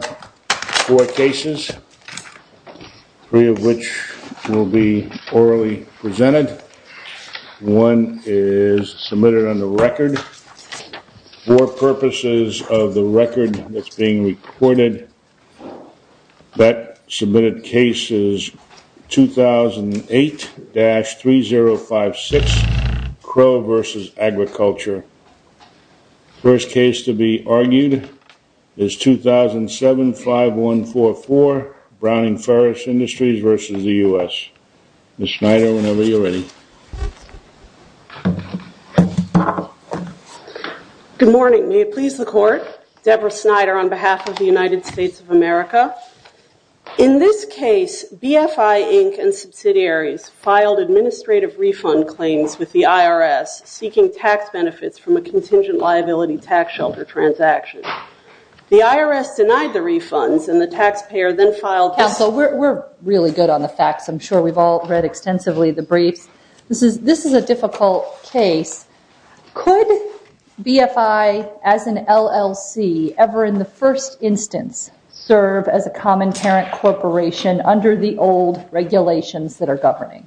Four cases, three of which will be orally presented. One is submitted on the record. For purposes of the record that's being recorded, that submitted case is 2008-3056 Crow v. Agriculture. First case to be argued is 2007-5144 Browning-Ferris Industries v. the U.S. Ms. Snyder, whenever you're ready. Good morning, may it please the court. Deborah Snyder on behalf of the United States of America. In this case, BFI Inc. and subsidiaries filed administrative refund claims with the IRS seeking tax benefits from a contingent liability tax shelter transaction. The IRS denied the refunds and the taxpayer then filed- Counsel, we're really good on the facts. I'm sure we've all read extensively the briefs. This is a difficult case. Could BFI as an LLC ever in the first instance serve as a common parent corporation under the old regulations that are governing?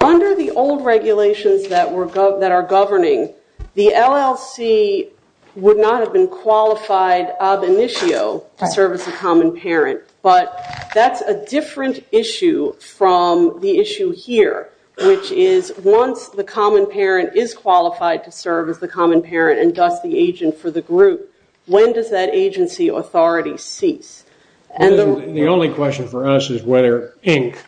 Under the old regulations that are governing, the LLC would not have been qualified ab initio to serve as a common parent, but that's a different issue from the issue here, which is once the common parent is qualified to serve as the common parent and thus the agent for the group, when does that agency authority cease? The only question for us is whether Inc.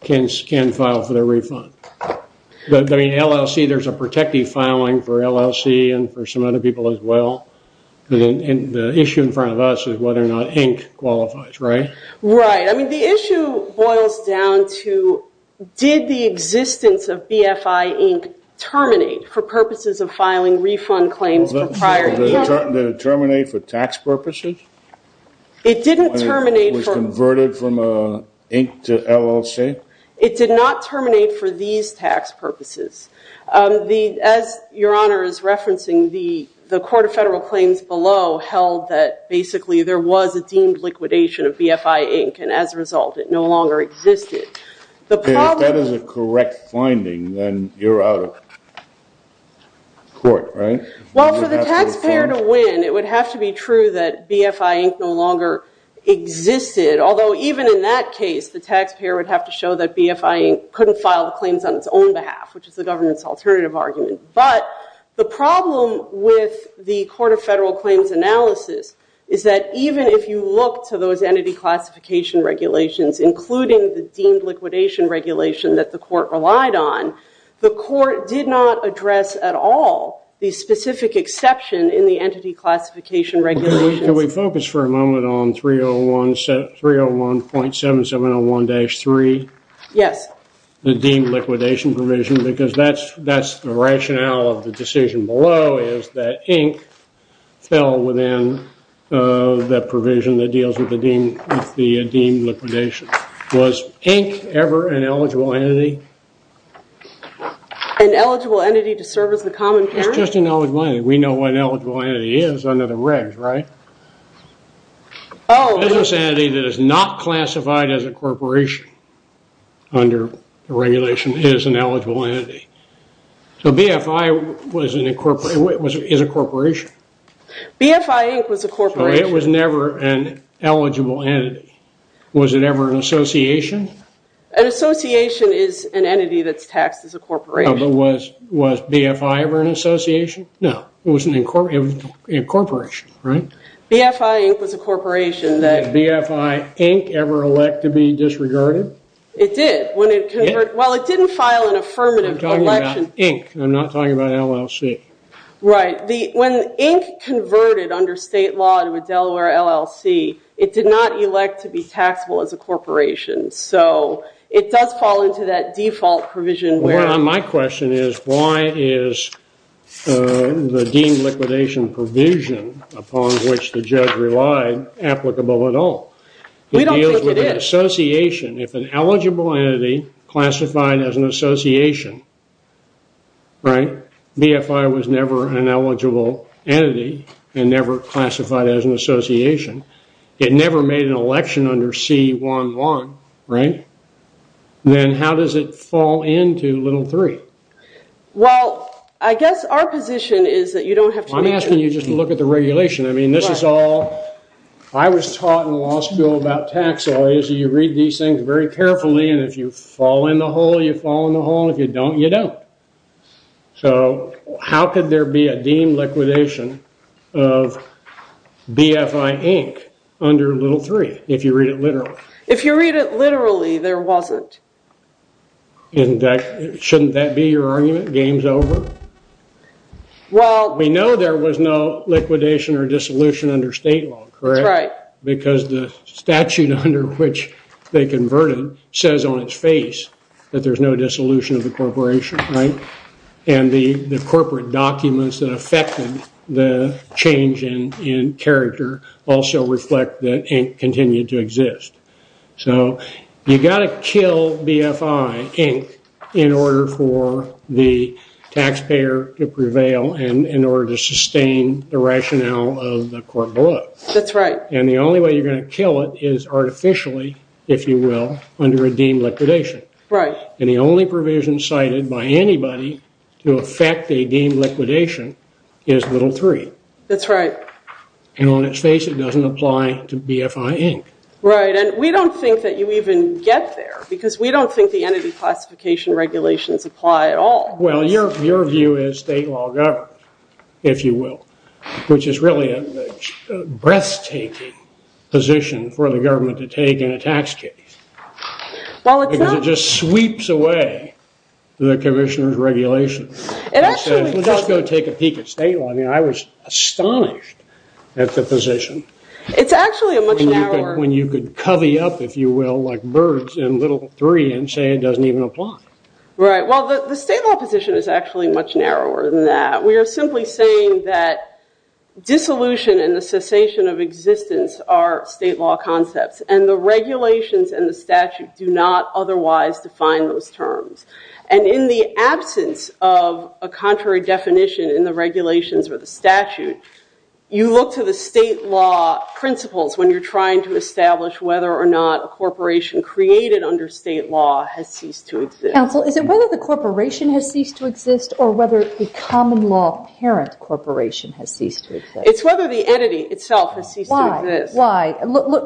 can file for their refund. There's a protective filing for LLC and for some other people as well. The issue in front of us is whether or not Inc. qualifies, right? Right. The issue boils down to did the existence of BFI Inc. terminate for purposes of filing refund claims for prior- Did it terminate for tax purposes? It didn't terminate for- It was converted from Inc. to LLC? It did not terminate for these tax purposes. As Your Honor is referencing, the Court of Federal held that basically there was a deemed liquidation of BFI Inc., and as a result, it no longer existed. If that is a correct finding, then you're out of court, right? Well, for the taxpayer to win, it would have to be true that BFI Inc. no longer existed, although even in that case, the taxpayer would have to show that BFI Inc. couldn't file the claims on its own behalf, which is the government's alternative argument. But the problem with the Court of Federal Claims analysis is that even if you look to those entity classification regulations, including the deemed liquidation regulation that the Court relied on, the Court did not address at all the specific exception in the entity classification regulations. Can we focus for a moment on 301.7701-3? Yes. The deemed liquidation provision, because that's the rationale of the decision below, is that Inc. fell within the provision that deals with the deemed liquidation. Was Inc. ever an eligible entity? An eligible entity to serve as the common parent? It's just an eligible entity. We know what an eligible entity is under the regs, right? A business entity that is not classified as a corporation under the regulation is an eligible entity. So BFI is a corporation? BFI Inc. was a corporation. So it was never an eligible entity? Was it ever an association? An association is an entity that's taxed as a corporation. No, but was BFI ever an association? No, it was an incorporation, right? BFI Inc. was a corporation that... BFI Inc. ever elect to be disregarded? It did. Well, it didn't file an affirmative. I'm talking about Inc. I'm not talking about LLC. Right. When Inc. converted under state law to a Delaware LLC, it did not elect to be taxable as a corporation. So it does fall into that default provision where... My question is, why is the deemed liquidation provision upon which the judge relied applicable at all? It deals with an association. If an eligible entity classified as an association, right? BFI was never an eligible entity and never classified as an association. It never made an election under C-1-1, right? Then how does it fall into little three? Well, I guess our position is that you don't have to... I'm asking you just to look at the regulation. I mean, this is all... I was taught in law school about tax lawyers. You read these things very carefully, and if you fall in the hole, you fall in the hole, and if you don't, you don't. So how could there be a deemed liquidation of BFI Inc. under little three, if you read it literally? If you read it literally, there wasn't. Shouldn't that be your argument? Game's over? Well... We know there was no liquidation or dissolution under state law, correct? That's right. Because the statute under which they converted says on its face that there's no dissolution of the corporation, right? And the corporate documents that affected the change in character also reflect that Inc. continued to exist. So you've got to kill BFI Inc. in order for the taxpayer to prevail and in order to sustain the rationale of the court below. That's right. And the only way you're going to kill it is artificially, if you will, under a deemed liquidation. Right. And the only provision cited by anybody to affect a deemed liquidation is little three. That's right. And on its face, it doesn't apply to BFI Inc. Right. And we don't think that you even get there because we don't think the entity classification regulations apply at all. Well, your view is state law government, if you will, which is really a breathtaking position for the government to take in a tax case. Well, it's not... It just sweeps away the commissioner's regulations. It actually... Let's go take a peek at state law. I mean, I was astonished at the position. It's actually a much narrower... When you could covey up, if you will, like birds in little three and say it doesn't even apply. Right. Well, the state law position is actually much narrower than that. We are simply saying that dissolution and the cessation of existence are state law concepts. And the regulations and the statute do not otherwise define those terms. And in the absence of a contrary definition in the regulations or the statute, you look to the state law principles when you're trying to establish whether or not a corporation created under state law has ceased to exist. Is it whether the corporation has ceased to exist or whether the common law parent corporation has ceased to exist? It's whether the entity itself has ceased to exist. Why?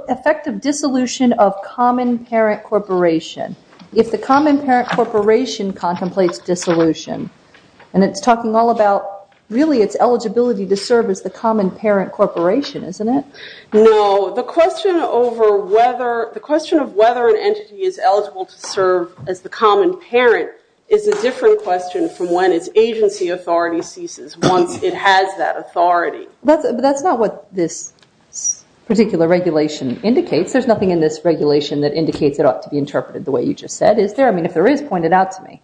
Effective dissolution of common parent corporation. If the common parent corporation contemplates dissolution, and it's talking all about really its eligibility to serve as the common parent corporation, isn't it? No. The question of whether an entity is eligible to serve as the common parent is a different question from when its agency authority ceases once it has that authority. But that's not what this particular regulation indicates. There's nothing in this regulation that indicates it ought to be interpreted the way you just said. Is there? I mean, if there is, point it out to me.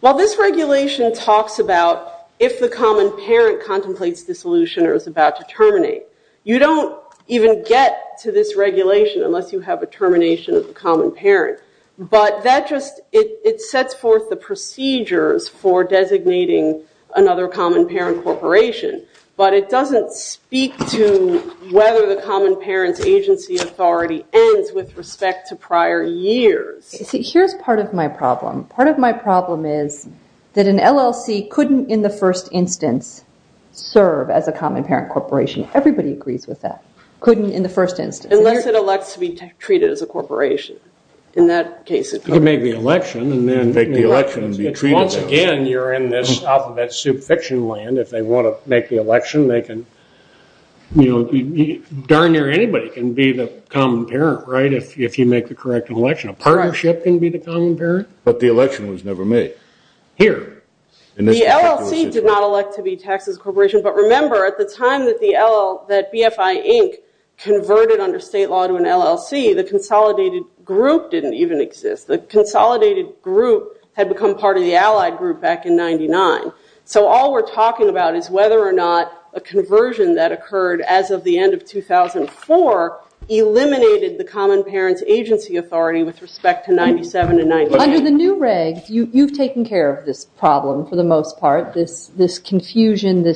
Well, this regulation talks about if the common parent contemplates dissolution or is about to terminate. You don't even get to this regulation unless you have a termination of the common parent. But that just, it sets forth the procedures for designating another common parent corporation. But it doesn't speak to whether the common parents agency authority ends with respect to prior years. Here's part of my problem. Part of my problem is that an LLC couldn't in the first instance serve as a common parent corporation. Everybody agrees with that. Unless it elects to be treated as a corporation. In that case, it could make the election and then make the election and be treated. Once again, you're in this alphabet soup fiction land. If they want to make the election, they can. Darn near anybody can be the common parent, right? If you make the correct election. A partnership can be the common parent, but the election was never made. Here, in this particular situation. The LLC did not elect to be taxed as a corporation. But remember, at the time that BFI Inc. converted under state law to an LLC, the consolidated group didn't even exist. The consolidated group had become part of the allied group back in 99. So all we're talking about is whether or not a conversion that occurred as of the end of 2004 eliminated the common parents agency authority with respect to 97 and 99. Under the new regs, you've taken care of this problem, for the most part. This confusion, the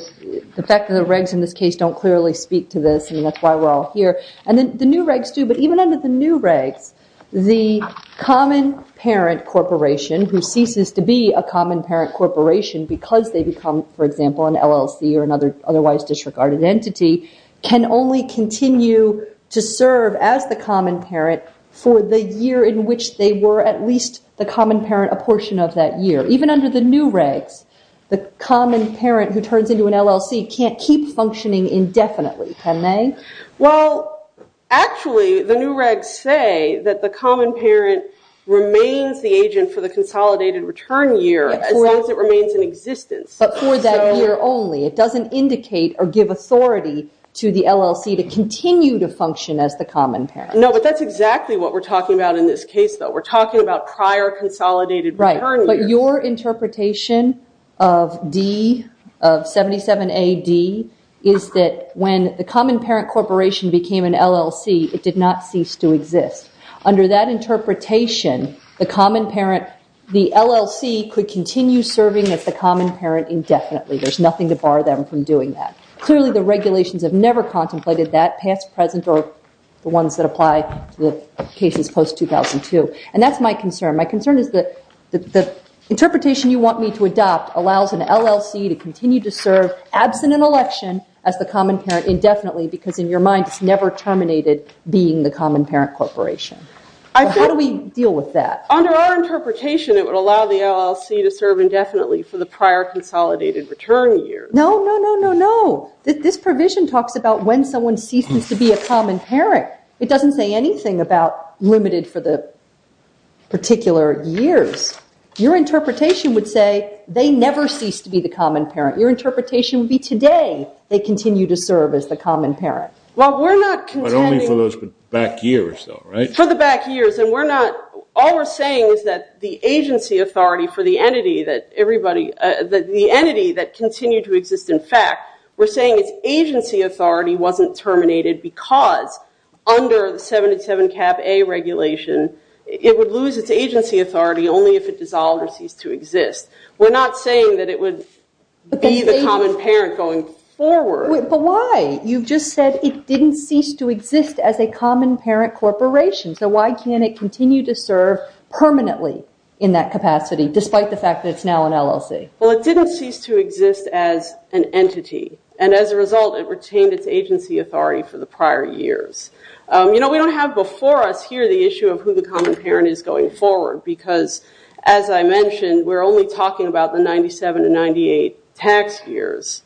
fact that the regs in this case don't clearly speak to this, and that's why we're all here. And then the new regs do. But even under the new regs, the common parent corporation, who ceases to be a common parent corporation because they become, for example, an LLC or another otherwise disregarded entity, can only continue to serve as the common parent for the year in which they were at least the common parent a portion of that year. Even under the new regs, the common parent who turns into an LLC can't keep functioning indefinitely, can they? Well, actually, the new regs say that the common parent remains the agent for the consolidated return year as long as it remains in existence. But for that year only. It doesn't indicate or give authority to the LLC to continue to function as the common parent. No, but that's exactly what we're talking about in this case, though. We're talking about prior consolidated return years. But your interpretation of D, of 77 AD, is that when the common parent corporation became an LLC, it did not cease to exist. Under that interpretation, the LLC could continue serving as the common parent indefinitely. There's nothing to bar them from doing that. Clearly, the regulations have never contemplated that past, present, or the ones that apply to the cases post-2002. And that's my concern. My concern is that the interpretation you want me to adopt allows an LLC to continue to serve, absent an election, as the common parent indefinitely. Because in your mind, it's never terminated being the common parent corporation. How do we deal with that? Under our interpretation, it would allow the LLC to serve indefinitely for the prior consolidated return year. No, no, no, no, no. This provision talks about when someone ceases to be a common parent. It doesn't say anything about limited for the particular years. Your interpretation would say they never cease to be the common parent. Your interpretation would be today they continue to serve as the common parent. Well, we're not contending. But only for those back years, though, right? For the back years. And all we're saying is that the agency authority for the entity that continued to exist in fact, we're saying its agency authority wasn't terminated because under the 727-Cap-A regulation, it would lose its agency authority only if it dissolved or ceased to exist. We're not saying that it would be the common parent going forward. But why? You've just said it didn't cease to exist as a common parent corporation. So why can't it continue to serve permanently in that capacity, despite the fact that it's now an LLC? Well, it didn't cease to exist as an entity. And as a result, it retained its agency authority for the prior years. We don't have before us here the issue of who the common parent is going forward. Because as I mentioned, we're only talking about the 97 to 98 tax years.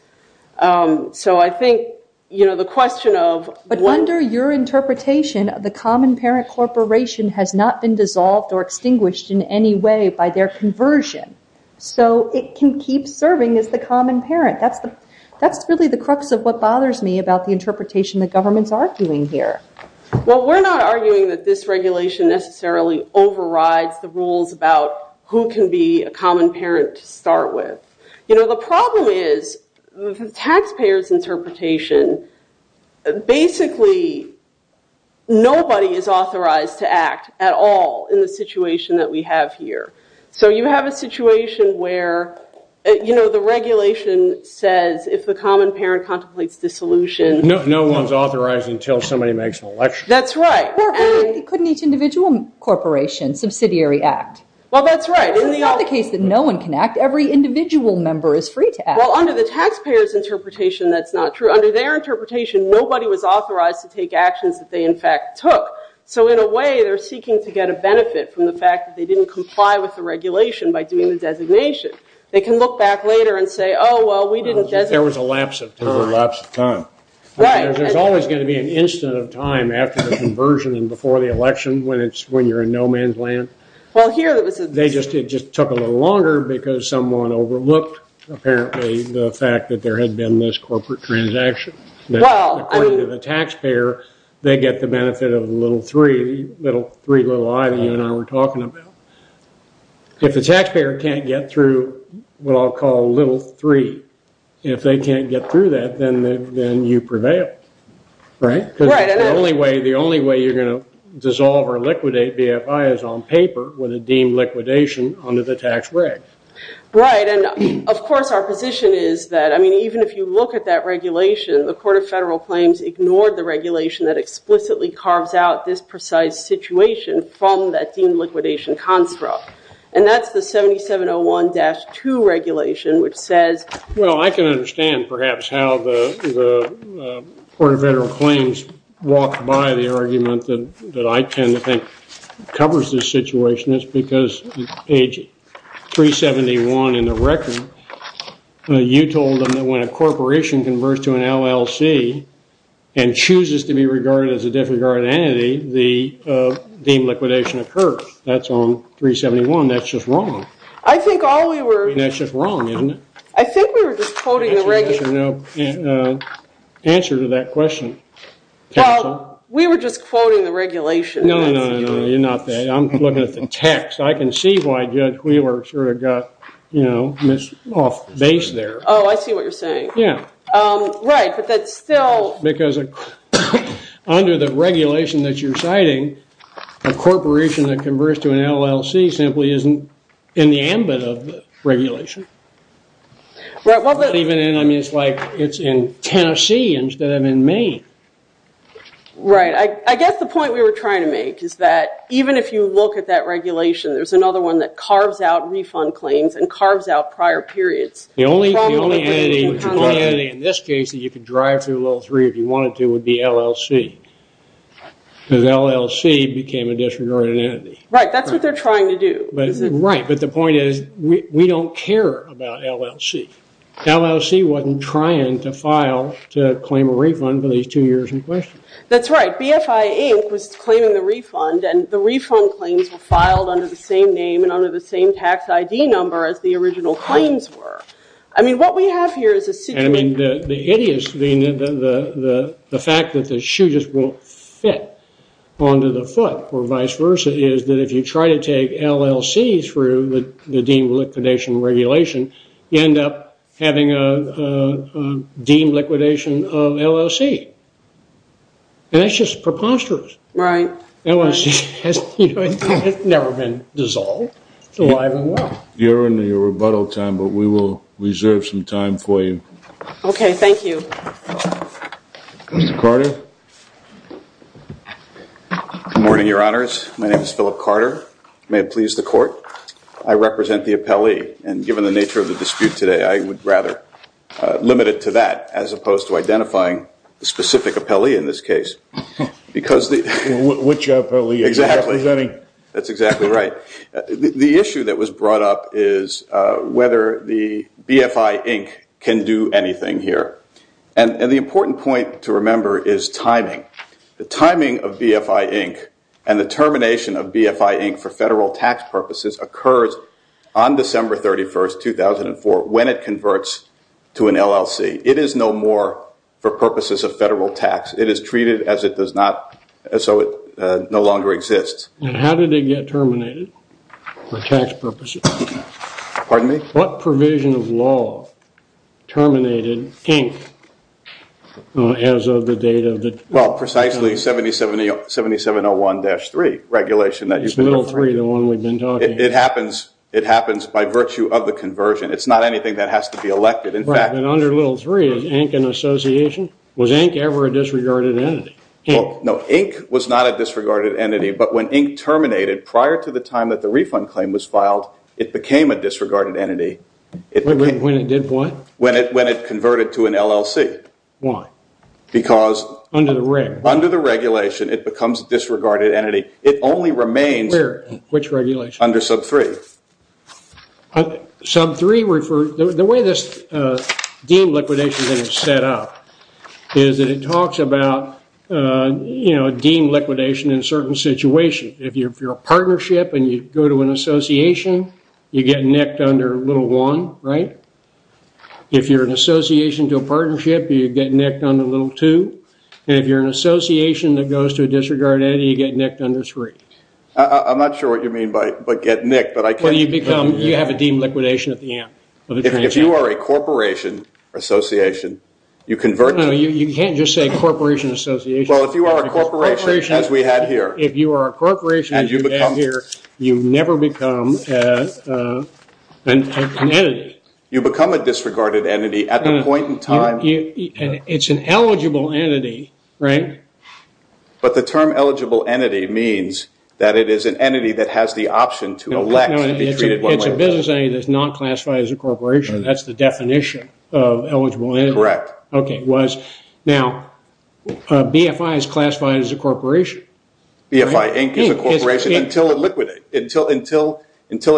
So I think the question of when- But under your interpretation, the common parent corporation has not been dissolved or extinguished in any way by their conversion. So it can keep serving as the common parent. That's really the crux of what bothers me about the interpretation the government's arguing here. Well, we're not arguing that this regulation necessarily overrides the rules about who can be a common parent to start with. The problem is the taxpayer's interpretation. Basically, nobody is authorized to act at all in the situation that we have here. So you have a situation where the regulation says if the common parent contemplates dissolution. No one's authorized until somebody makes an election. That's right. Couldn't each individual corporation subsidiary act? Well, that's right. In the case that no one can act, every individual member is free to act. Well, under the taxpayer's interpretation, that's not true. Under their interpretation, nobody was authorized to take actions that they, in fact, took. So in a way, they're seeking to get a benefit from the fact that they didn't comply with the regulation by doing the designation. They can look back later and say, oh, well, we didn't designate. There was a lapse of time. There was a lapse of time. There's always going to be an instant of time after the conversion and before the election when you're in no man's land. They just took a little longer because someone overlooked, apparently, the fact that there had been this corporate transaction. According to the taxpayer, they get the benefit of the little three, little three little I that you and I were talking about. If the taxpayer can't get through what I'll call little three, if they can't get through that, then you prevail. Right? Right. Because the only way you're going to dissolve or liquidate BFI is on paper with a deemed liquidation under the tax break. Right, and of course, our position is that, I mean, even if you look at that regulation, the Court of Federal Claims ignored the regulation that explicitly carves out this precise situation from that deemed liquidation construct. And that's the 7701-2 regulation, which says, Well, I can understand, perhaps, how the Court of Federal Claims walked by the argument that I tend to think covers this situation. It's because page 371 in the record, you told them that when a corporation converts to an LLC and chooses to be regarded as a disregarded entity, the deemed liquidation occurs. That's on 371. That's just wrong. I think all we were. That's just wrong, isn't it? I think we were just quoting the regulation. There's no answer to that question. Well, we were just quoting the regulation. No, no, no, you're not. I'm looking at the text. I can see why Judge Wheeler sort of got off base there. Oh, I see what you're saying. Yeah. Right, but that's still. Because under the regulation that you're citing, a corporation that converts to an LLC simply isn't in the ambit of the regulation. Even in, I mean, it's like it's in Tennessee instead of in Maine. Right, I guess the point we were trying to make is that even if you look at that regulation, there's another one that carves out refund claims and carves out prior periods. The only entity in this case that you could drive through level three if you wanted to would be LLC. Because LLC became a disregarded entity. Right, that's what they're trying to do. Right, but the point is we don't care about LLC. LLC wasn't trying to file to claim a refund for these two years in question. That's right, BFI Inc. was claiming the refund. And the refund claims were filed under the same name and under the same tax ID number as the original claims were. I mean, what we have here is a situation. I mean, the fact that the shoe just won't fit onto the foot or vice versa is that if you try to take LLC through the deemed liquidation regulation, you end up having a deemed liquidation of LLC. And that's just preposterous. Right. LLC has never been dissolved. It's alive and well. You're in your rebuttal time, but we will reserve some time for you. OK, thank you. Mr. Carter? Good morning, Your Honors. My name is Philip Carter. May it please the court. I represent the appellee. And given the nature of the dispute today, I would rather limit it to that as opposed to identifying the specific appellee in this case. Which appellee are you representing? That's exactly right. The issue that was brought up is whether the BFI Inc. can do anything here. And the important point to remember is timing, the timing of BFI Inc. And the termination of BFI Inc. for federal tax purposes occurs on December 31, 2004 when it converts to an LLC. It is no more for purposes of federal tax. It is treated as it does not, so it no longer exists. And how did it get terminated for tax purposes? Pardon me? What provision of law terminated Inc. as of the date of the? Well, precisely 7701-3 regulation that you've been referring. It's little three, the one we've been talking about. It happens by virtue of the conversion. It's not anything that has to be elected. In fact, under little three, is Inc. an association? Was Inc. ever a disregarded entity? No, Inc. was not a disregarded entity. But when Inc. terminated prior to the time that the refund claim was filed, it When it did what? When it converted to an LLC. Why? Because under the regulation, it becomes disregarded entity. It only remains under sub three. Sub three, the way this deemed liquidation is set up is that it talks about deemed liquidation in a certain situation. If you're a partnership and you go to an association, you get nicked under little one, right? If you're an association to a partnership, you get nicked under little two. And if you're an association that goes to a disregarded entity, you get nicked under three. I'm not sure what you mean by get nicked, but I can't. Well, you become, you have a deemed liquidation at the end of the transaction. If you are a corporation or association, you convert to. No, you can't just say corporation or association. Well, if you are a corporation, as we had here. If you are a corporation, as we had here, you never become an entity. You become a disregarded entity at the point in time. It's an eligible entity, right? But the term eligible entity means that it is an entity that has the option to elect to be treated one way or the other. It's a business entity that's not classified as a corporation. That's the definition of eligible entity. Correct. OK. Now, BFI is classified as a corporation. BFI Inc. is a corporation until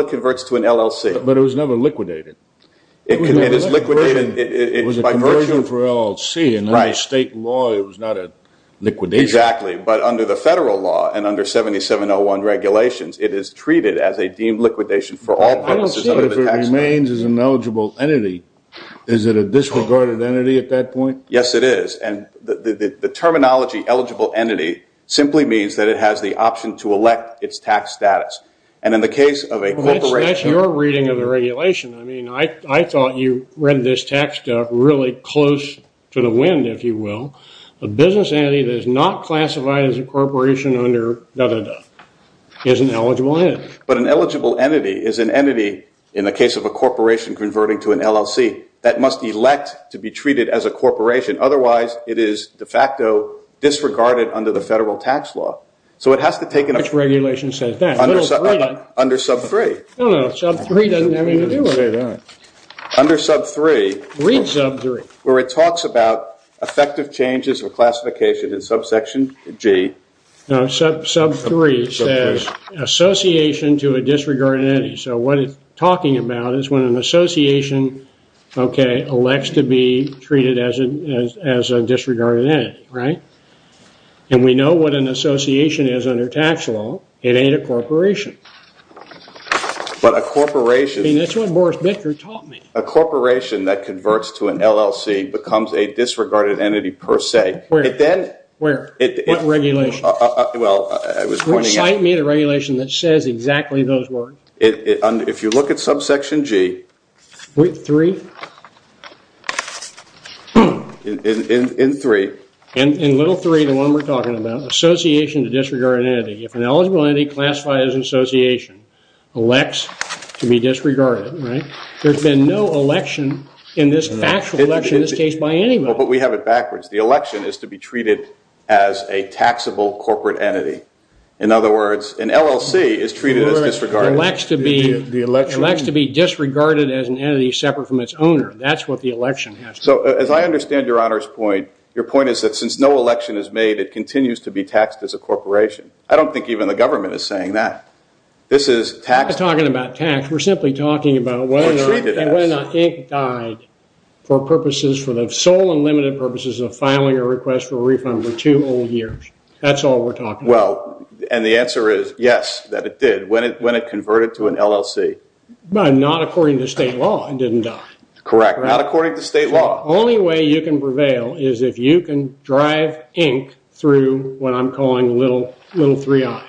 it converts to an LLC. But it was never liquidated. It is liquidated by virtue. It was a conversion for LLC. And under state law, it was not a liquidation. Exactly. But under the federal law and under 7701 regulations, it is treated as a deemed liquidation for all purposes under the tax code. I don't see it as it remains as an eligible entity. Is it a disregarded entity at that point? Yes, it is. And the terminology eligible entity simply means that it has the option to elect its tax status. And in the case of a corporation. That's your reading of the regulation. I mean, I thought you read this text really close to the wind, if you will. A business entity that is not classified as a corporation under da-da-da is an eligible entity. But an eligible entity is an entity, in the case of a corporation converting to an LLC, that must elect to be treated as a corporation. Otherwise, it is de facto disregarded under the federal tax law. So it has to take an effect. Which regulation says that? Under sub 3. No, no, sub 3 doesn't have anything to do with it. Under sub 3. Read sub 3. Where it talks about effective changes of classification in subsection G. No, sub 3 says association to a disregarded entity. So what it's talking about is when an association, OK, as a disregarded entity, right? And we know what an association is under tax law. It ain't a corporation. But a corporation. I mean, that's what Boris Bickert taught me. A corporation that converts to an LLC becomes a disregarded entity per se. Where? It then. Where? What regulation? Well, I was pointing out. Recite me the regulation that says exactly those words. If you look at subsection G. 3? In 3. In little 3, the one we're talking about, association to disregarded entity. If an eligible entity classified as an association elects to be disregarded, right? There's been no election in this factual election in this case by anybody. But we have it backwards. The election is to be treated as a taxable corporate entity. In other words, an LLC is treated as disregarded. It elects to be disregarded as an entity separate from its owner. That's what the election has to be. So as I understand your honor's point, your point is that since no election is made, it continues to be taxed as a corporation. I don't think even the government is saying that. This is taxable. We're not talking about tax. We're simply talking about whether or not Inc. died for purposes, for the sole and limited purposes of filing a request for a refund for two whole years. That's all we're talking about. And the answer is yes, that it did. When it converted to an LLC. But not according to state law. Correct. Not according to state law. Only way you can prevail is if you can drive Inc. through what I'm calling little three I.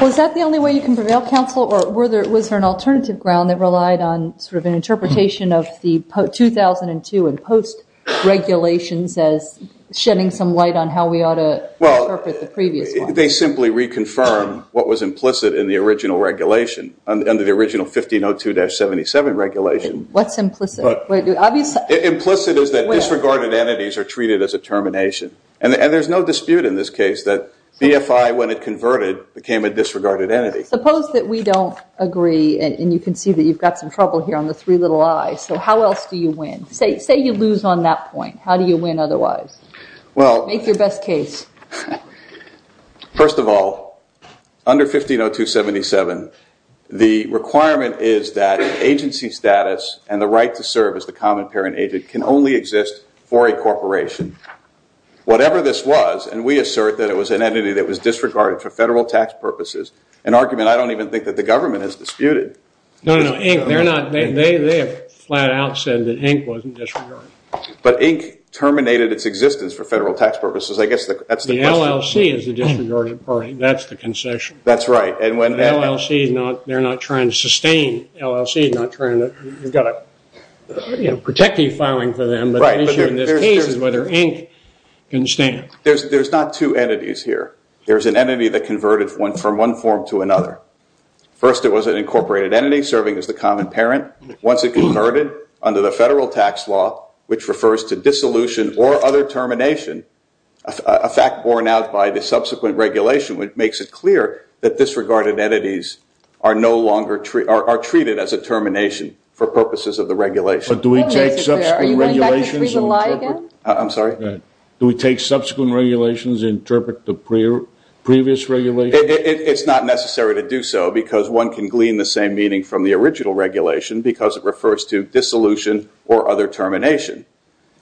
Was that the only way you can prevail counsel? Or was there an alternative ground that relied on sort of an interpretation of the 2002 and post regulations as shedding some light on how we ought to interpret the previous one? They simply reconfirm what was implicit in the original regulation, under the original 1502-77 regulation. What's implicit? Implicit is that disregarded entities are treated as a termination. And there's no dispute in this case that BFI, when it converted, became a disregarded entity. Suppose that we don't agree, and you can see that you've got some trouble here on the three little I. So how else do you win? Say you lose on that point. How do you win otherwise? Make your best case. First of all, under 1502-77, the requirement is that agency status and the right to serve as the common parent agent can only exist for a corporation. Whatever this was, and we assert that it was an entity that was disregarded for federal tax purposes, an argument I don't even think that the government has disputed. No, no, Inc., they have flat out said that Inc. wasn't disregarded. But Inc. terminated its existence for federal tax purposes. The LLC is the disregarded party. That's the concession. That's right. And when LLC is not, they're not trying to sustain, LLC is not trying to, you've got a protective filing for them. But the issue in this case is whether Inc. can stand. There's not two entities here. There's an entity that converted from one form to another. First, it was an incorporated entity serving as the common parent. Once it converted under the federal tax law, which a fact borne out by the subsequent regulation, which makes it clear that disregarded entities are no longer, are treated as a termination for purposes of the regulation. But do we take subsequent regulations and interpret? I'm sorry? Do we take subsequent regulations and interpret the previous regulation? It's not necessary to do so, because one can glean the same meaning from the original regulation, because it refers to dissolution or other termination.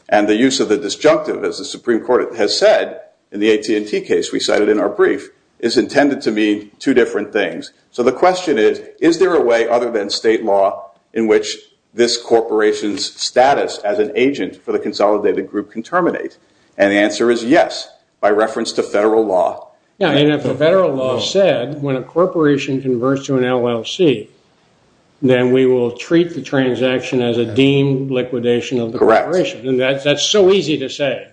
And the use of the disjunctive, as the Supreme Court has said in the AT&T case we cited in our brief, is intended to mean two different things. So the question is, is there a way other than state law in which this corporation's status as an agent for the consolidated group can terminate? And the answer is yes, by reference to federal law. Yeah, and if the federal law said, when a corporation converts to an LLC, then we will treat the transaction as a deemed liquidation of the corporation. And that's so easy to say.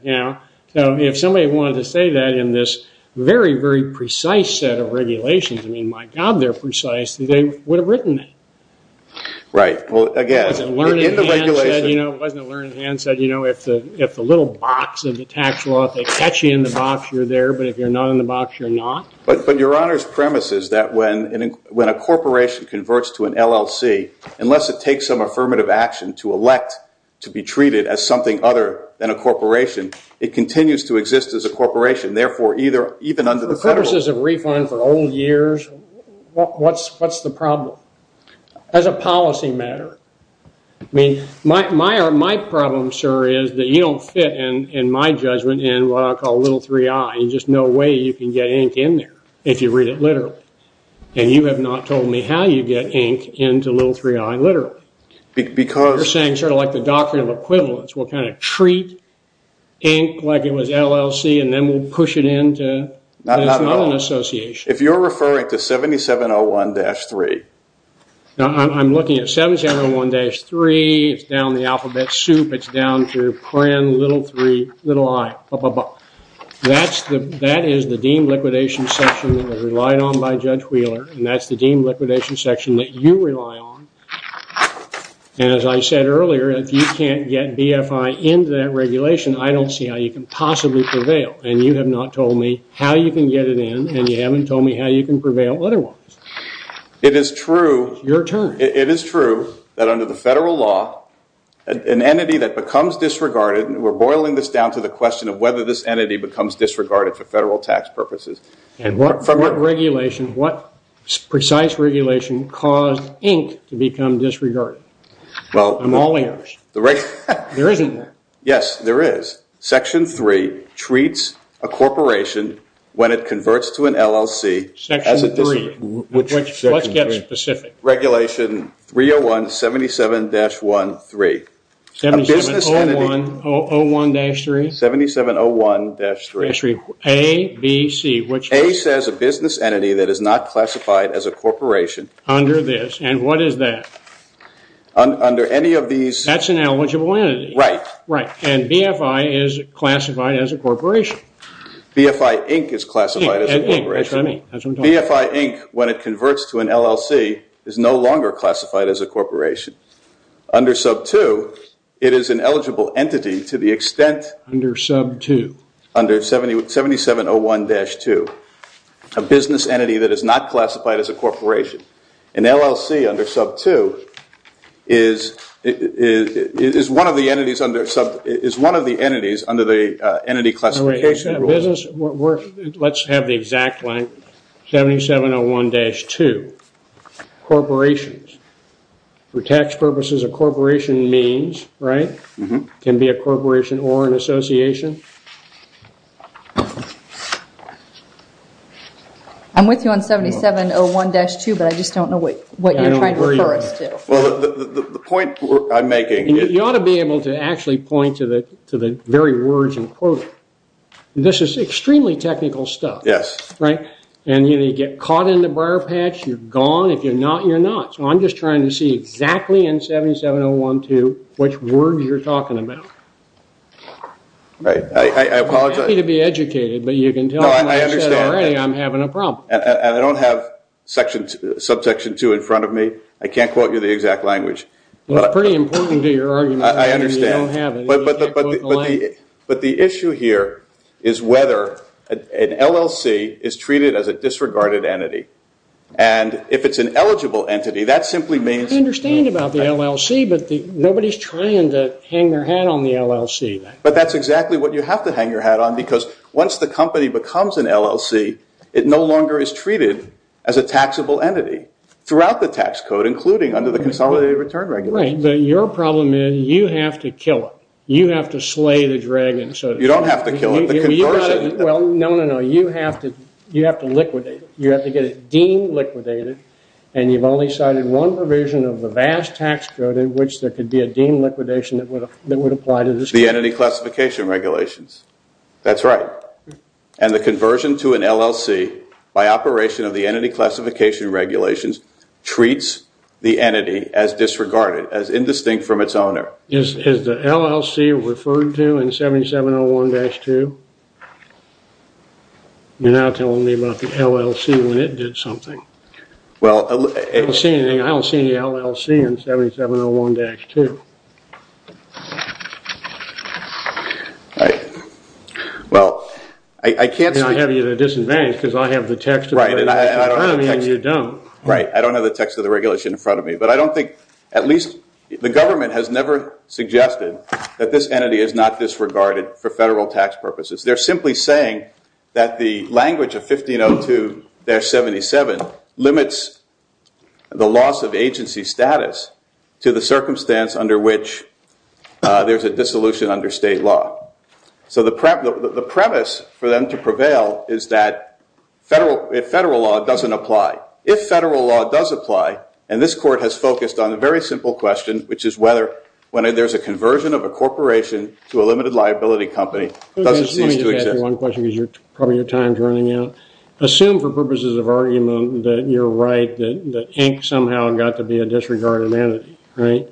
So if somebody wanted to say that in this very, very precise set of regulations, I mean, my god, they're precise. They would have written that. Right, well, again, in the regulation. It wasn't a learned hand said, if the little box of the tax law, if they catch you in the box, you're there. But if you're not in the box, you're not. But Your Honor's premise is that when a corporation converts to an LLC, unless it takes some affirmative action to elect to be treated as something other than a corporation, it continues to exist as a corporation. Therefore, even under the federal law. For purposes of refund for old years, what's the problem? As a policy matter. I mean, my problem, sir, is that you don't fit, in my judgment, in what I call little 3-I. There's just no way you can get ink in there if you read it literally. And you have not told me how you get ink into little 3-I literally. You're saying sort of like the doctrine of equivalence. We'll kind of treat ink like it was LLC, and then we'll push it into another association. If you're referring to 7701-3. I'm looking at 7701-3. It's down the alphabet soup. It's down to little 3, little I. That is the deemed liquidation section that was relied on by Judge Wheeler. And that's the deemed liquidation section that you rely on. And as I said earlier, if you can't get BFI into that regulation, I don't see how you can possibly prevail. And you have not told me how you can get it in, and you haven't told me how you can prevail otherwise. It is true. Your turn. It is true that under the federal law, an entity that becomes disregarded, and we're boiling this down to the question of whether this entity becomes disregarded for federal tax purposes. And what regulation, what precise regulation caused ink to become disregarded? Well, I'm all ears. There isn't one. Yes, there is. Section 3 treats a corporation when it converts to an LLC. Section 3. Let's get specific. Regulation 301-77-1-3. 7701-3? 7701-3. A, B, C. A says a business entity that is not classified as a corporation. Under this. And what is that? Under any of these. That's an eligible entity. Right. Right. And BFI is classified as a corporation. BFI Inc is classified as a corporation. BFI Inc, when it converts to an LLC, is no longer classified as a corporation. Under sub 2, it is an eligible entity to the extent. Under sub 2. Under 7701-2. A business entity that is not classified as a corporation. An LLC under sub 2 is one of the entities under the entity classification rule. Let's have the exact line. 7701-2. Corporations. For tax purposes, a corporation means, right? Can be a corporation or an association. I'm with you on 7701-2, but I just don't know what you're trying to refer us to. Well, the point I'm making is. You ought to be able to actually point to the very words in quoted. This is extremely technical stuff. Yes. Right? And you get caught in the briar patch, you're gone. If you're not, you're not. So I'm just trying to see exactly in 7701-2 which words you're talking about. I apologize. I'm happy to be educated, but you can tell me. No, I understand. I said already, I'm having a problem. And I don't have subsection 2 in front of me. I can't quote you the exact language. It's pretty important to your argument. I understand. You don't have it, and you can't quote the language. But the issue here is whether an LLC is treated as a disregarded entity. And if it's an eligible entity, that simply means. I understand about the LLC, but nobody's trying to hang their hat on the LLC. But that's exactly what you have to hang your hat on, because once the company becomes an LLC, it no longer is treated as a taxable entity throughout the tax code, including under the Consolidated Return Regulations. Right, but your problem is you have to kill it. You have to slay the dragon, so to speak. You don't have to kill it, but converse it. Well, no, no, no. You have to liquidate it. You have to get it deemed liquidated, and you've only cited one provision of the vast tax code in which there could be a deemed liquidation that would apply to this. The Entity Classification Regulations. That's right. And the conversion to an LLC by operation of the Entity Classification Regulations treats the entity as disregarded, as indistinct from its owner. Is the LLC referred to in 7701-2? You're now telling me about the LLC when it did something. Well, it was seen. I don't see the LLC in 7701-2. Well, I can't speak to that. And I have you to disadvance, because I have the text of the regulation in front of me, and you don't. Right, I don't have the text of the regulation in front of me. But I don't think, at least, the government has never suggested that this entity is not disregarded for federal tax purposes. They're simply saying that the language of 1502-77 limits the loss of agency status to the circumstance under which there's a dissolution under state law. So the premise for them to prevail is that federal law doesn't apply. If federal law does apply, and this court has focused on a very simple question, which is whether, when there's a conversion of a corporation to a limited liability company, does it cease to exist? Let me just ask you one question, because probably your time's running out. Assume, for purposes of argument, that you're right, that Inc. somehow got to be a disregarded entity, right?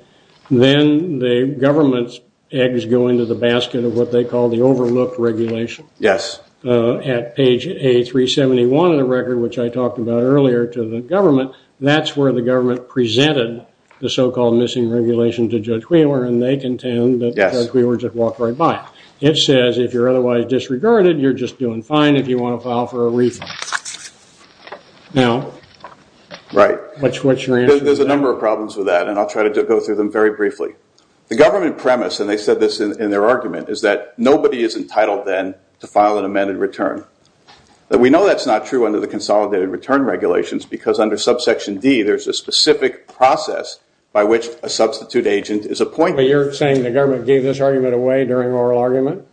Then the government's eggs go into the basket of what they call the overlooked regulation. Yes. At page 871 of the record, which I talked about earlier to the government, that's where the government presented the so-called missing regulation to Judge Wheeler, and they contend that Judge Wheeler just walked right by. It says, if you're otherwise disregarded, you're just doing fine if you want to file for a refund. Now, what's your answer to that? There's a number of problems with that, and I'll try to go through them very briefly. The government premise, and they said this in their argument, is that nobody is entitled, then, to file an amended return. We know that's not true under the consolidated return regulations, because under subsection D, there's a specific process by which a substitute agent is appointed. But you're saying the government gave this argument away during oral argument?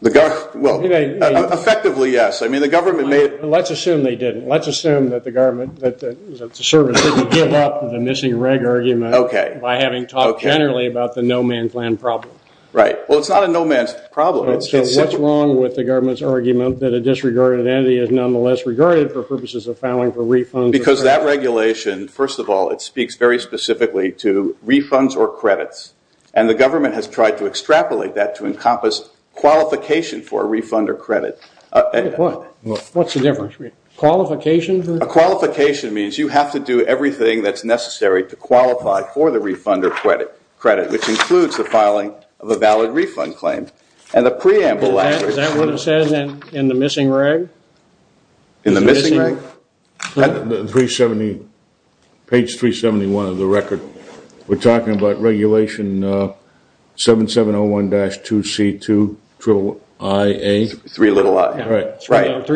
The government, well, effectively, yes. I mean, the government made it. Let's assume they didn't. Let's assume that the government, that the service, didn't give up the missing reg argument by having talked generally about the no man's land problem. Right, well, it's not a no man's problem. So what's wrong with the government's argument that a disregarded entity is nonetheless regarded for purposes of filing for refunds? Because that regulation, first of all, it speaks very specifically to refunds or credits. And the government has tried to extrapolate that to encompass qualification for a refund or credit. What's the difference? Qualification? A qualification means you have to do everything that's necessary to qualify for the refund or credit, which includes the filing of a valid refund claim. And the preamble after it's written. Is that what it says in the missing reg? In the missing reg? Page 371 of the record. We're talking about regulation 7701-2C2-3i-a. 3 little i. Right.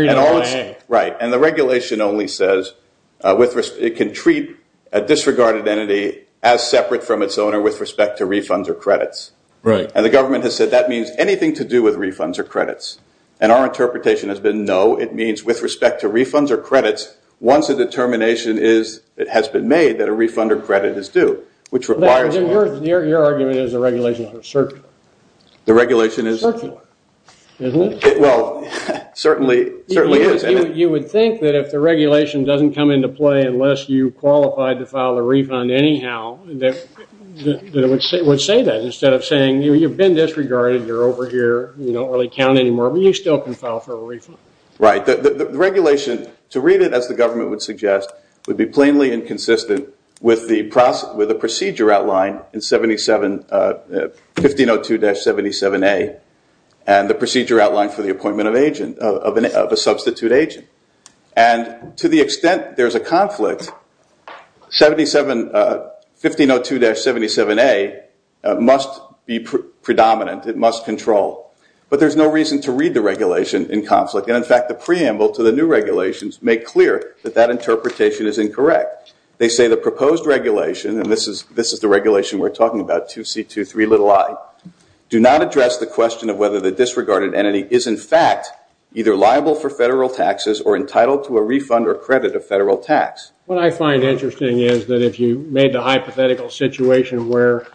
Right, and the regulation only says it can treat a disregarded entity as separate from its owner with respect to refunds or credits. And the government has said that means anything to do with refunds or credits. And our interpretation has been no, it means with respect to refunds or credits, once a determination has been made that a refund or credit is due, which requires a refund. Your argument is the regulations are circular. The regulation is circular. Well, it certainly is. You would think that if the regulation doesn't come into play unless you qualified to file a refund anyhow, that it would say that. Instead of saying, you've been disregarded, you're over here, you don't really count anymore, but you still can file for a refund. Right, the regulation, to read it as the government would suggest, would be plainly inconsistent with the procedure outlined in 1502-77A and the procedure outlined for the appointment of a substitute agent. And to the extent there's a conflict, 1502-77A must be predominant. It must control. But there's no reason to read the regulation in conflict. And in fact, the preamble to the new regulations make clear that that interpretation is incorrect. They say the proposed regulation, and this is the regulation we're talking about, 2C23 little i, do not address the question of whether the disregarded entity is, in fact, either liable for federal taxes or entitled to a refund or credit of federal tax. What I find interesting is that if you made the hypothetical situation where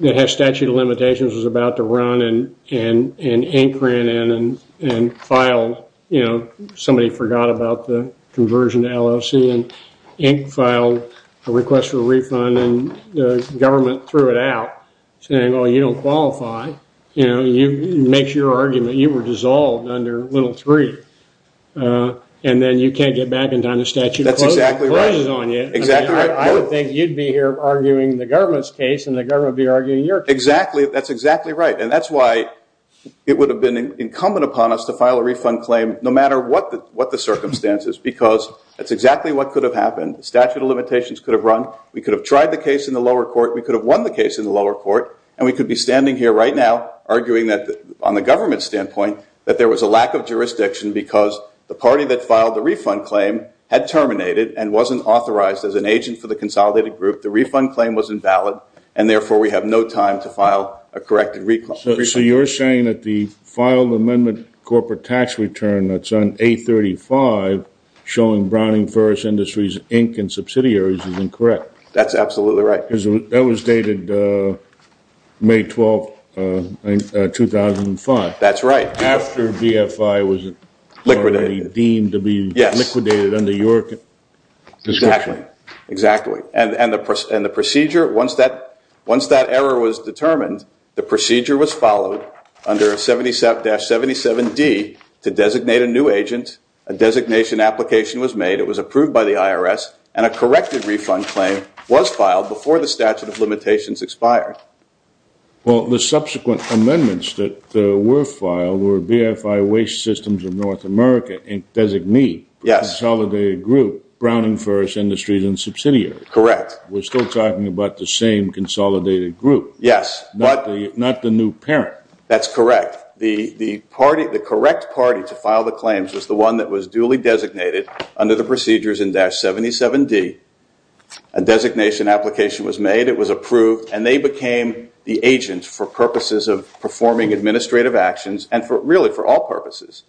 it has statute of limitations, was about to run, and ink ran in and filed, somebody forgot about the conversion to LLC, and ink filed a request for a refund, and the government threw it out, saying, oh, you don't qualify. You make your argument. You were dissolved under little iii. And then you can't get back in time, the statute closes on you. Exactly right. I would think you'd be here arguing the government's case, and the government would be arguing your case. That's exactly right. And that's why it would have been incumbent upon us to file a refund claim, no matter what the circumstances, because that's exactly what could have happened. Statute of limitations could have run. We could have tried the case in the lower court. We could have won the case in the lower court. And we could be standing here right now, arguing that, on the government standpoint, that there was a lack of jurisdiction, because the party that filed the refund claim had terminated and wasn't authorized as an agent for the consolidated group. The refund claim was invalid, and therefore, we have no time to file a corrected refund. So you're saying that the filed amendment corporate tax return that's on 835, showing Browning Ferris Industries, Inc., and subsidiaries is incorrect. That's absolutely right. That was dated May 12, 2005. That's right. After BFI was already deemed to be liquidated Exactly. And the procedure, once that error was determined, the procedure was followed under 77-77D to designate a new agent. A designation application was made. It was approved by the IRS, and a corrected refund claim was filed before the statute of limitations expired. Well, the subsequent amendments that were filed were BFI Waste Systems of North America, Inc., designee, consolidated group, Browning Ferris Industries, and subsidiaries. Correct. We're still talking about the same consolidated group. Yes. Not the new parent. That's correct. The correct party to file the claims was the one that was duly designated under the procedures in 77-77D. A designation application was made. It was approved. And they became the agent for purposes of performing administrative actions, and really, for all purposes.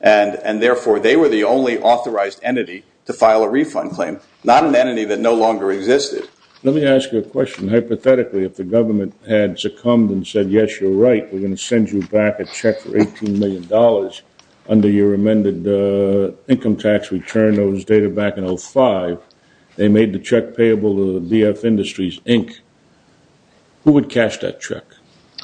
And therefore, they were the only authorized entity to file a refund claim, not an entity that no longer existed. Let me ask you a question. Hypothetically, if the government had succumbed and said, yes, you're right. We're going to send you back a check for $18 million under your amended income tax return. Those data back in 05. They made the check payable to the BFI Industries, Inc. Who would cash that check?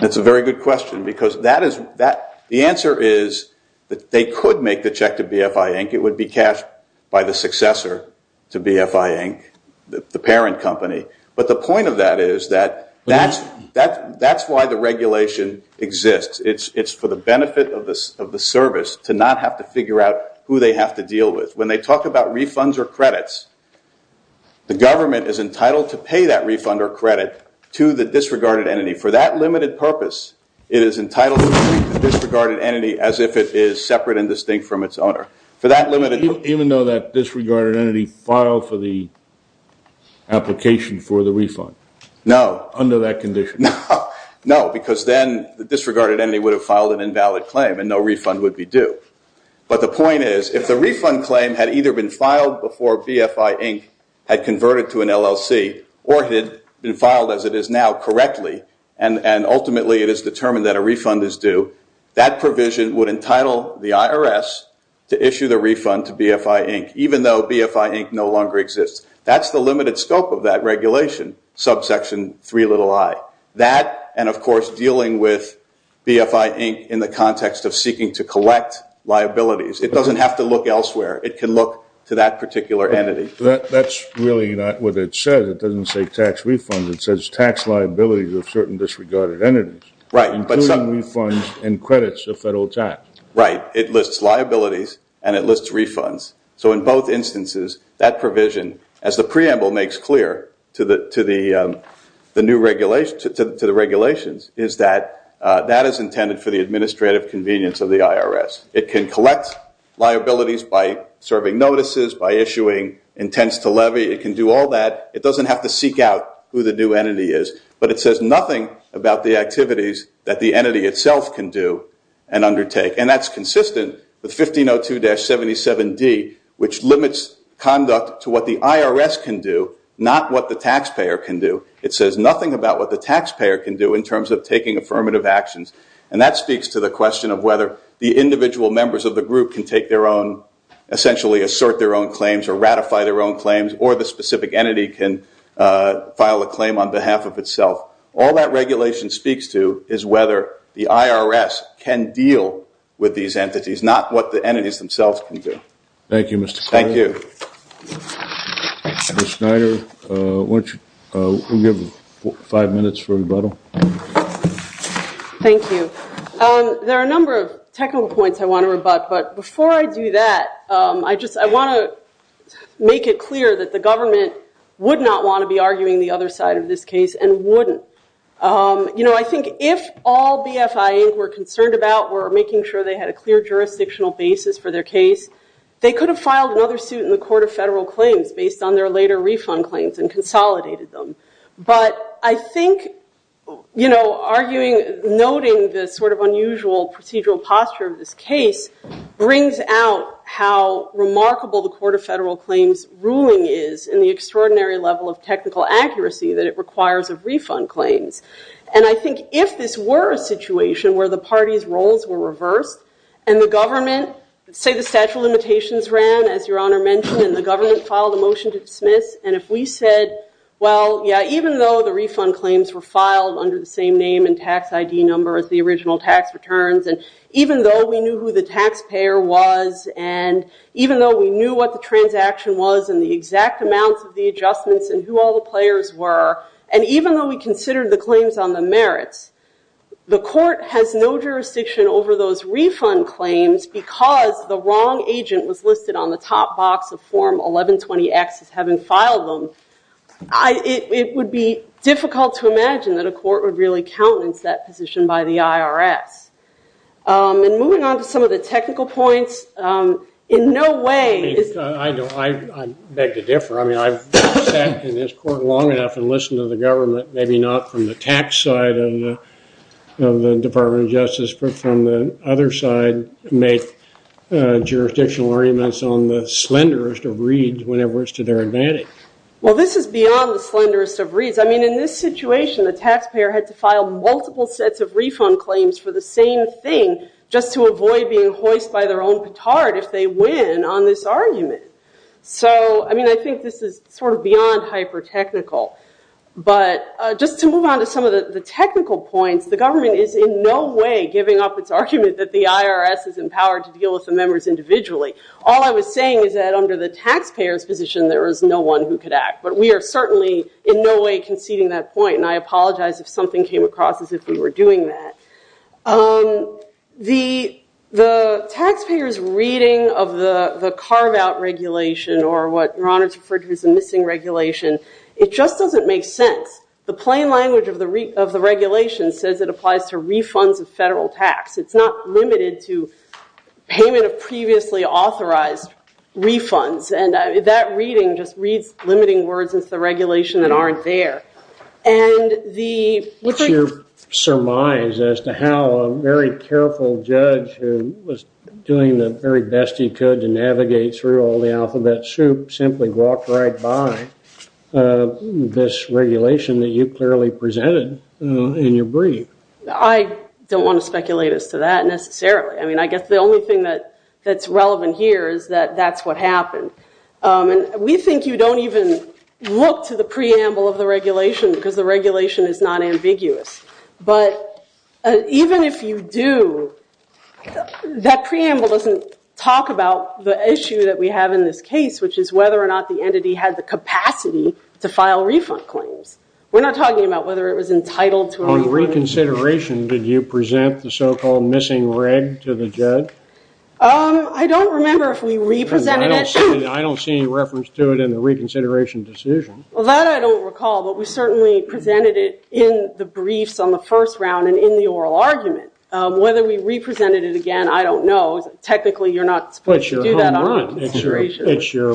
That's a very good question, because the answer is that they could make the check to BFI, Inc. It would be cashed by the successor to BFI, Inc., the parent company. But the point of that is that that's why the regulation exists. It's for the benefit of the service to not have to figure out who they have to deal with. When they talk about refunds or credits, the government is entitled to pay that refund or credit to the disregarded entity. For that limited purpose, it is entitled to treat the disregarded entity as if it is separate and distinct from its owner. For that limited purpose. Even though that disregarded entity filed for the application for the refund under that condition. No, because then the disregarded entity would have filed an invalid claim and no refund would be due. But the point is, if the refund claim had either been filed before BFI, Inc. had converted to an LLC or had been filed as it is now correctly, and ultimately it is determined that a refund is due, that provision would entitle the IRS to issue the refund to BFI, Inc., even though BFI, Inc. no longer exists. That's the limited scope of that regulation, subsection 3 little i. That, and of course, dealing with BFI, Inc. in the context of seeking to collect liabilities. It doesn't have to look elsewhere. It can look to that particular entity. That's really not what it says. It doesn't say tax refunds. It says tax liabilities of certain disregarded entities. Right. Including refunds and credits of federal tax. Right. It lists liabilities and it lists refunds. So in both instances, that provision, as the preamble makes clear to the regulations, is that that is intended for the administrative convenience of the IRS. It can collect liabilities by serving notices, by issuing intents to levy. It can do all that. It doesn't have to seek out who the new entity is. But it says nothing about the activities that the entity itself can do and undertake. And that's consistent with 1502-77D, which limits conduct to what the IRS can do, not what the taxpayer can do. It says nothing about what the taxpayer can do in terms of taking affirmative actions. And that speaks to the question of whether the individual members of the group can take their own, essentially assert their own claims, or ratify their own claims, or the specific entity can file a claim on behalf of itself. All that regulation speaks to is whether the IRS can deal with these entities, not what the entities themselves can do. Thank you, Mr. Clark. Thank you. Ms. Snyder, why don't you give five minutes for rebuttal. Thank you. There are a number of technical points I want to rebut. But before I do that, I want to make it clear that the government would not want to be arguing the other side of this case and wouldn't. You know, I think if all BFI were concerned about were making sure they had a clear jurisdictional basis for their case, they could have filed another suit in the Court of Federal Claims based on their later refund claims and consolidated them. But I think, you know, arguing, noting this sort of unusual procedural posture of this case brings out how remarkable the Court of Federal Claims ruling is in the extraordinary level of technical accuracy that it requires of refund claims. And I think if this were a situation where the parties' roles were reversed and the government, say the statute of limitations ran, as Your Honor mentioned, and the government filed a motion to dismiss, and if we said, well, yeah, even though the refund claims were filed under the same name and tax ID number as the original tax returns, and even though we knew who the taxpayer was, and even though we knew what the transaction was and the exact amounts of the adjustments and who all the players were, and even though we considered the claims on the merits, the court has no jurisdiction over those refund claims because the wrong agent was listed on the top box of Form 1120X as having filed them. It would be difficult to imagine that a court would really countenance that position by the IRS. And moving on to some of the technical points, in no way is I know, I beg to differ. I've sat in this court long enough and listened to the government, maybe not from the tax side of the Department of Justice, but from the other side, make jurisdictional arguments on the slenderest of reeds whenever it's to their advantage. Well, this is beyond the slenderest of reeds. I mean, in this situation, the taxpayer had to file multiple sets of refund claims for the same thing just to avoid being hoist by their own petard if they win on this argument. So I mean, I think this is sort of beyond hyper-technical. But just to move on to some of the technical points, the government is in no way giving up its argument that the IRS is empowered to deal with the members individually. All I was saying is that under the taxpayer's position, there is no one who could act. But we are certainly in no way conceding that point. And I apologize if something came across as if we were doing that. The taxpayer's reading of the carve-out regulation, or what your honor referred to as the missing regulation, it just doesn't make sense. The plain language of the regulation says it applies to refunds of federal tax. It's not limited to payment of previously authorized refunds. And that reading just reads limiting words into the regulation that aren't there. And the- What's your surmise as to how a very careful judge who was doing the very best he could to navigate through all the alphabet soup simply walked right by this regulation that you clearly presented in your brief? I don't want to speculate as to that, necessarily. I mean, I guess the only thing that's relevant here is that that's what happened. And we think you don't even look to the preamble of the regulation, because the regulation is not ambiguous. But even if you do, that preamble doesn't talk about the issue that we have in this case, which is whether or not the entity had the capacity to file refund claims. We're not talking about whether it was entitled to a refund. On reconsideration, did you present the so-called missing reg to the judge? I don't remember if we represented it. I don't see any reference to it in the reconsideration decision. Well, that I don't recall. But we certainly presented it in the briefs on the first round and in the oral argument. Whether we represented it again, I don't know. Technically, you're not supposed to do that on consideration. It's your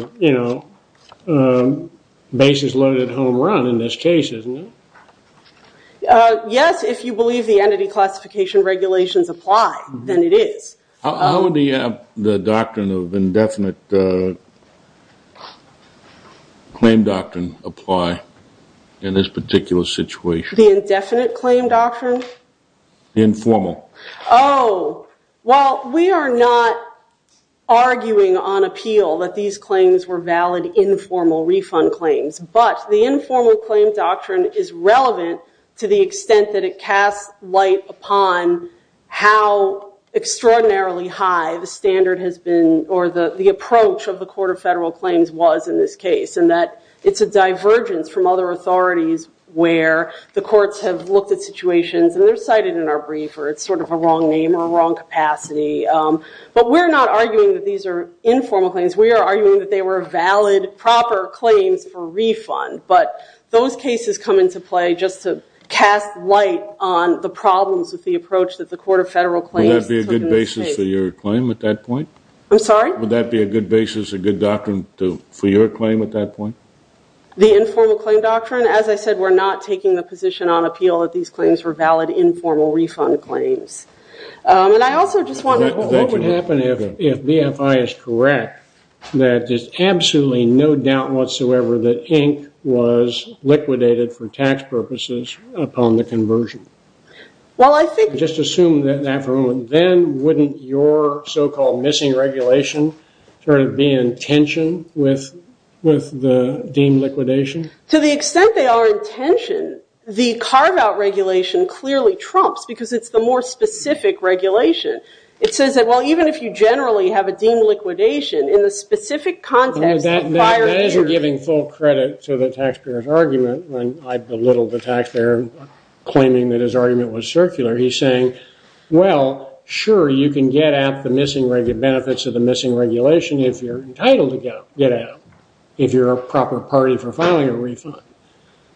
basis loaded home run in this case, isn't it? Yes, if you believe the entity classification regulations apply, then it is. How would the doctrine of indefinite claim doctrine apply in this particular situation? The indefinite claim doctrine? Informal. Oh, well, we are not arguing on appeal that these claims were valid informal refund claims. But the informal claim doctrine is relevant to the extent that it casts light upon how extraordinarily high the standard has been, or the approach of the Court of Federal Claims was in this case, and that it's a divergence from other authorities where the courts have looked at situations, and they're cited in our brief, or it's sort of a wrong name or a wrong capacity. But we're not arguing that these are informal claims. We are arguing that they were valid, proper claims for refund. But those cases come into play just to cast light on the problems with the approach that the Court of Federal Claims took in this case. Would that be a good basis for your claim at that point? I'm sorry? Would that be a good basis, a good doctrine, for your claim at that point? The informal claim doctrine? As I said, we're not taking the position on appeal that these claims were valid informal refund claims. And I also just want to know what would happen if BFI is correct, that there's absolutely no doubt whatsoever that ink was liquidated for tax purposes upon the conversion? Well, I think- Just assume that for a moment. Then wouldn't your so-called missing regulation sort of be in tension with the deemed liquidation? To the extent they are in tension, the carve-out regulation clearly trumps, because it's the more specific regulation. It says that, well, even if you generally have a deemed liquidation, in the specific context of prior years. That is giving full credit to the taxpayer's argument. I belittled the taxpayer, claiming that his argument was circular. He's saying, well, sure, you can get at the missing benefits of the missing regulation if you're entitled to get at them, if you're a proper party for filing a refund.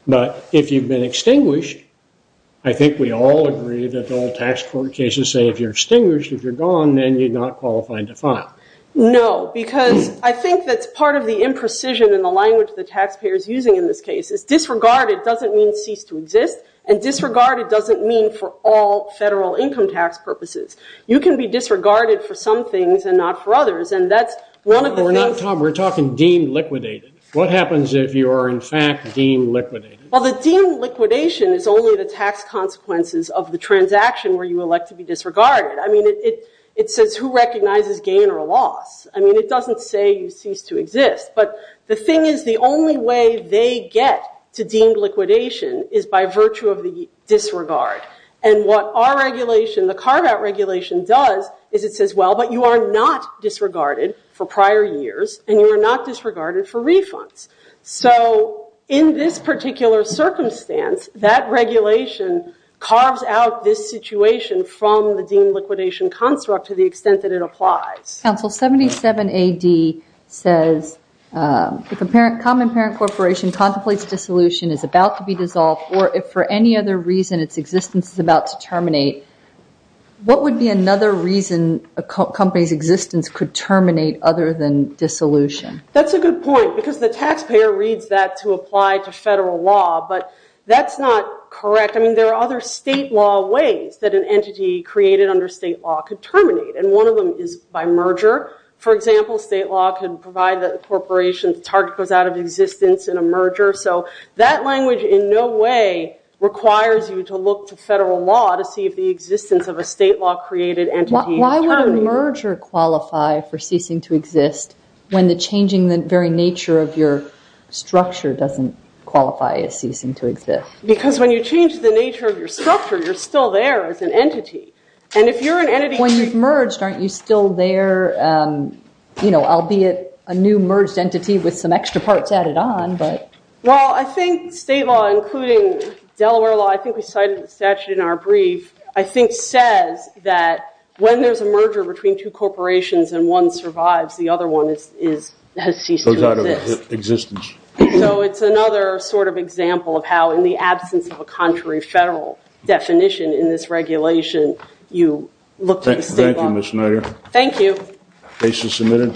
But if you've been extinguished, I think we all agree that all tax court cases say, if you're extinguished, if you're gone, then you're not qualified to file. No, because I think that's part of the imprecision in the language the taxpayer is using in this case. It's disregarded doesn't mean cease to exist. And disregarded doesn't mean for all federal income tax purposes. You can be disregarded for some things and not for others. And that's one of the things. No, we're not, Tom. We're talking deemed liquidated. What happens if you are, in fact, deemed liquidated? Well, the deemed liquidation is only the tax consequences of the transaction where you elect to be disregarded. I mean, it says who recognizes gain or loss. I mean, it doesn't say you cease to exist. But the thing is, the only way they get to deemed liquidation is by virtue of the disregard. And what our regulation, the carve-out regulation, does is it says, well, but you are not disregarded for prior years, and you are not disregarded for refunds. So in this particular circumstance, that regulation carves out this situation from the deemed liquidation construct to the extent that it applies. Counsel, 77 AD says, if a common parent corporation contemplates dissolution, is about to be dissolved, or if for any other reason its existence is about to terminate, what would be another reason a company's existence could terminate other than dissolution? That's a good point, because the taxpayer reads that to apply to federal law. But that's not correct. I mean, there are other state law ways that an entity created under state law could terminate. And one of them is by merger. For example, state law could provide that a corporation's target goes out of existence in a merger. So that language in no way requires you to look to federal law to see if the existence of a state law created entity is terminated. Why would a merger qualify for ceasing to exist when the changing the very nature of your structure doesn't qualify as ceasing to exist? Because when you change the nature of your structure, you're still there as an entity. And if you're an entity, when you've merged, aren't you still there, albeit a new merged entity with some extra parts added on? Well, I think state law, including Delaware law, I think we cited the statute in our brief, I think says that when there's a merger between two corporations and one survives, the other one has ceased to exist. So it's another sort of example of how in the absence of a contrary federal definition in this regulation, you look to state law. Thank you, Ms. Nutter. Thank you. Case is submitted.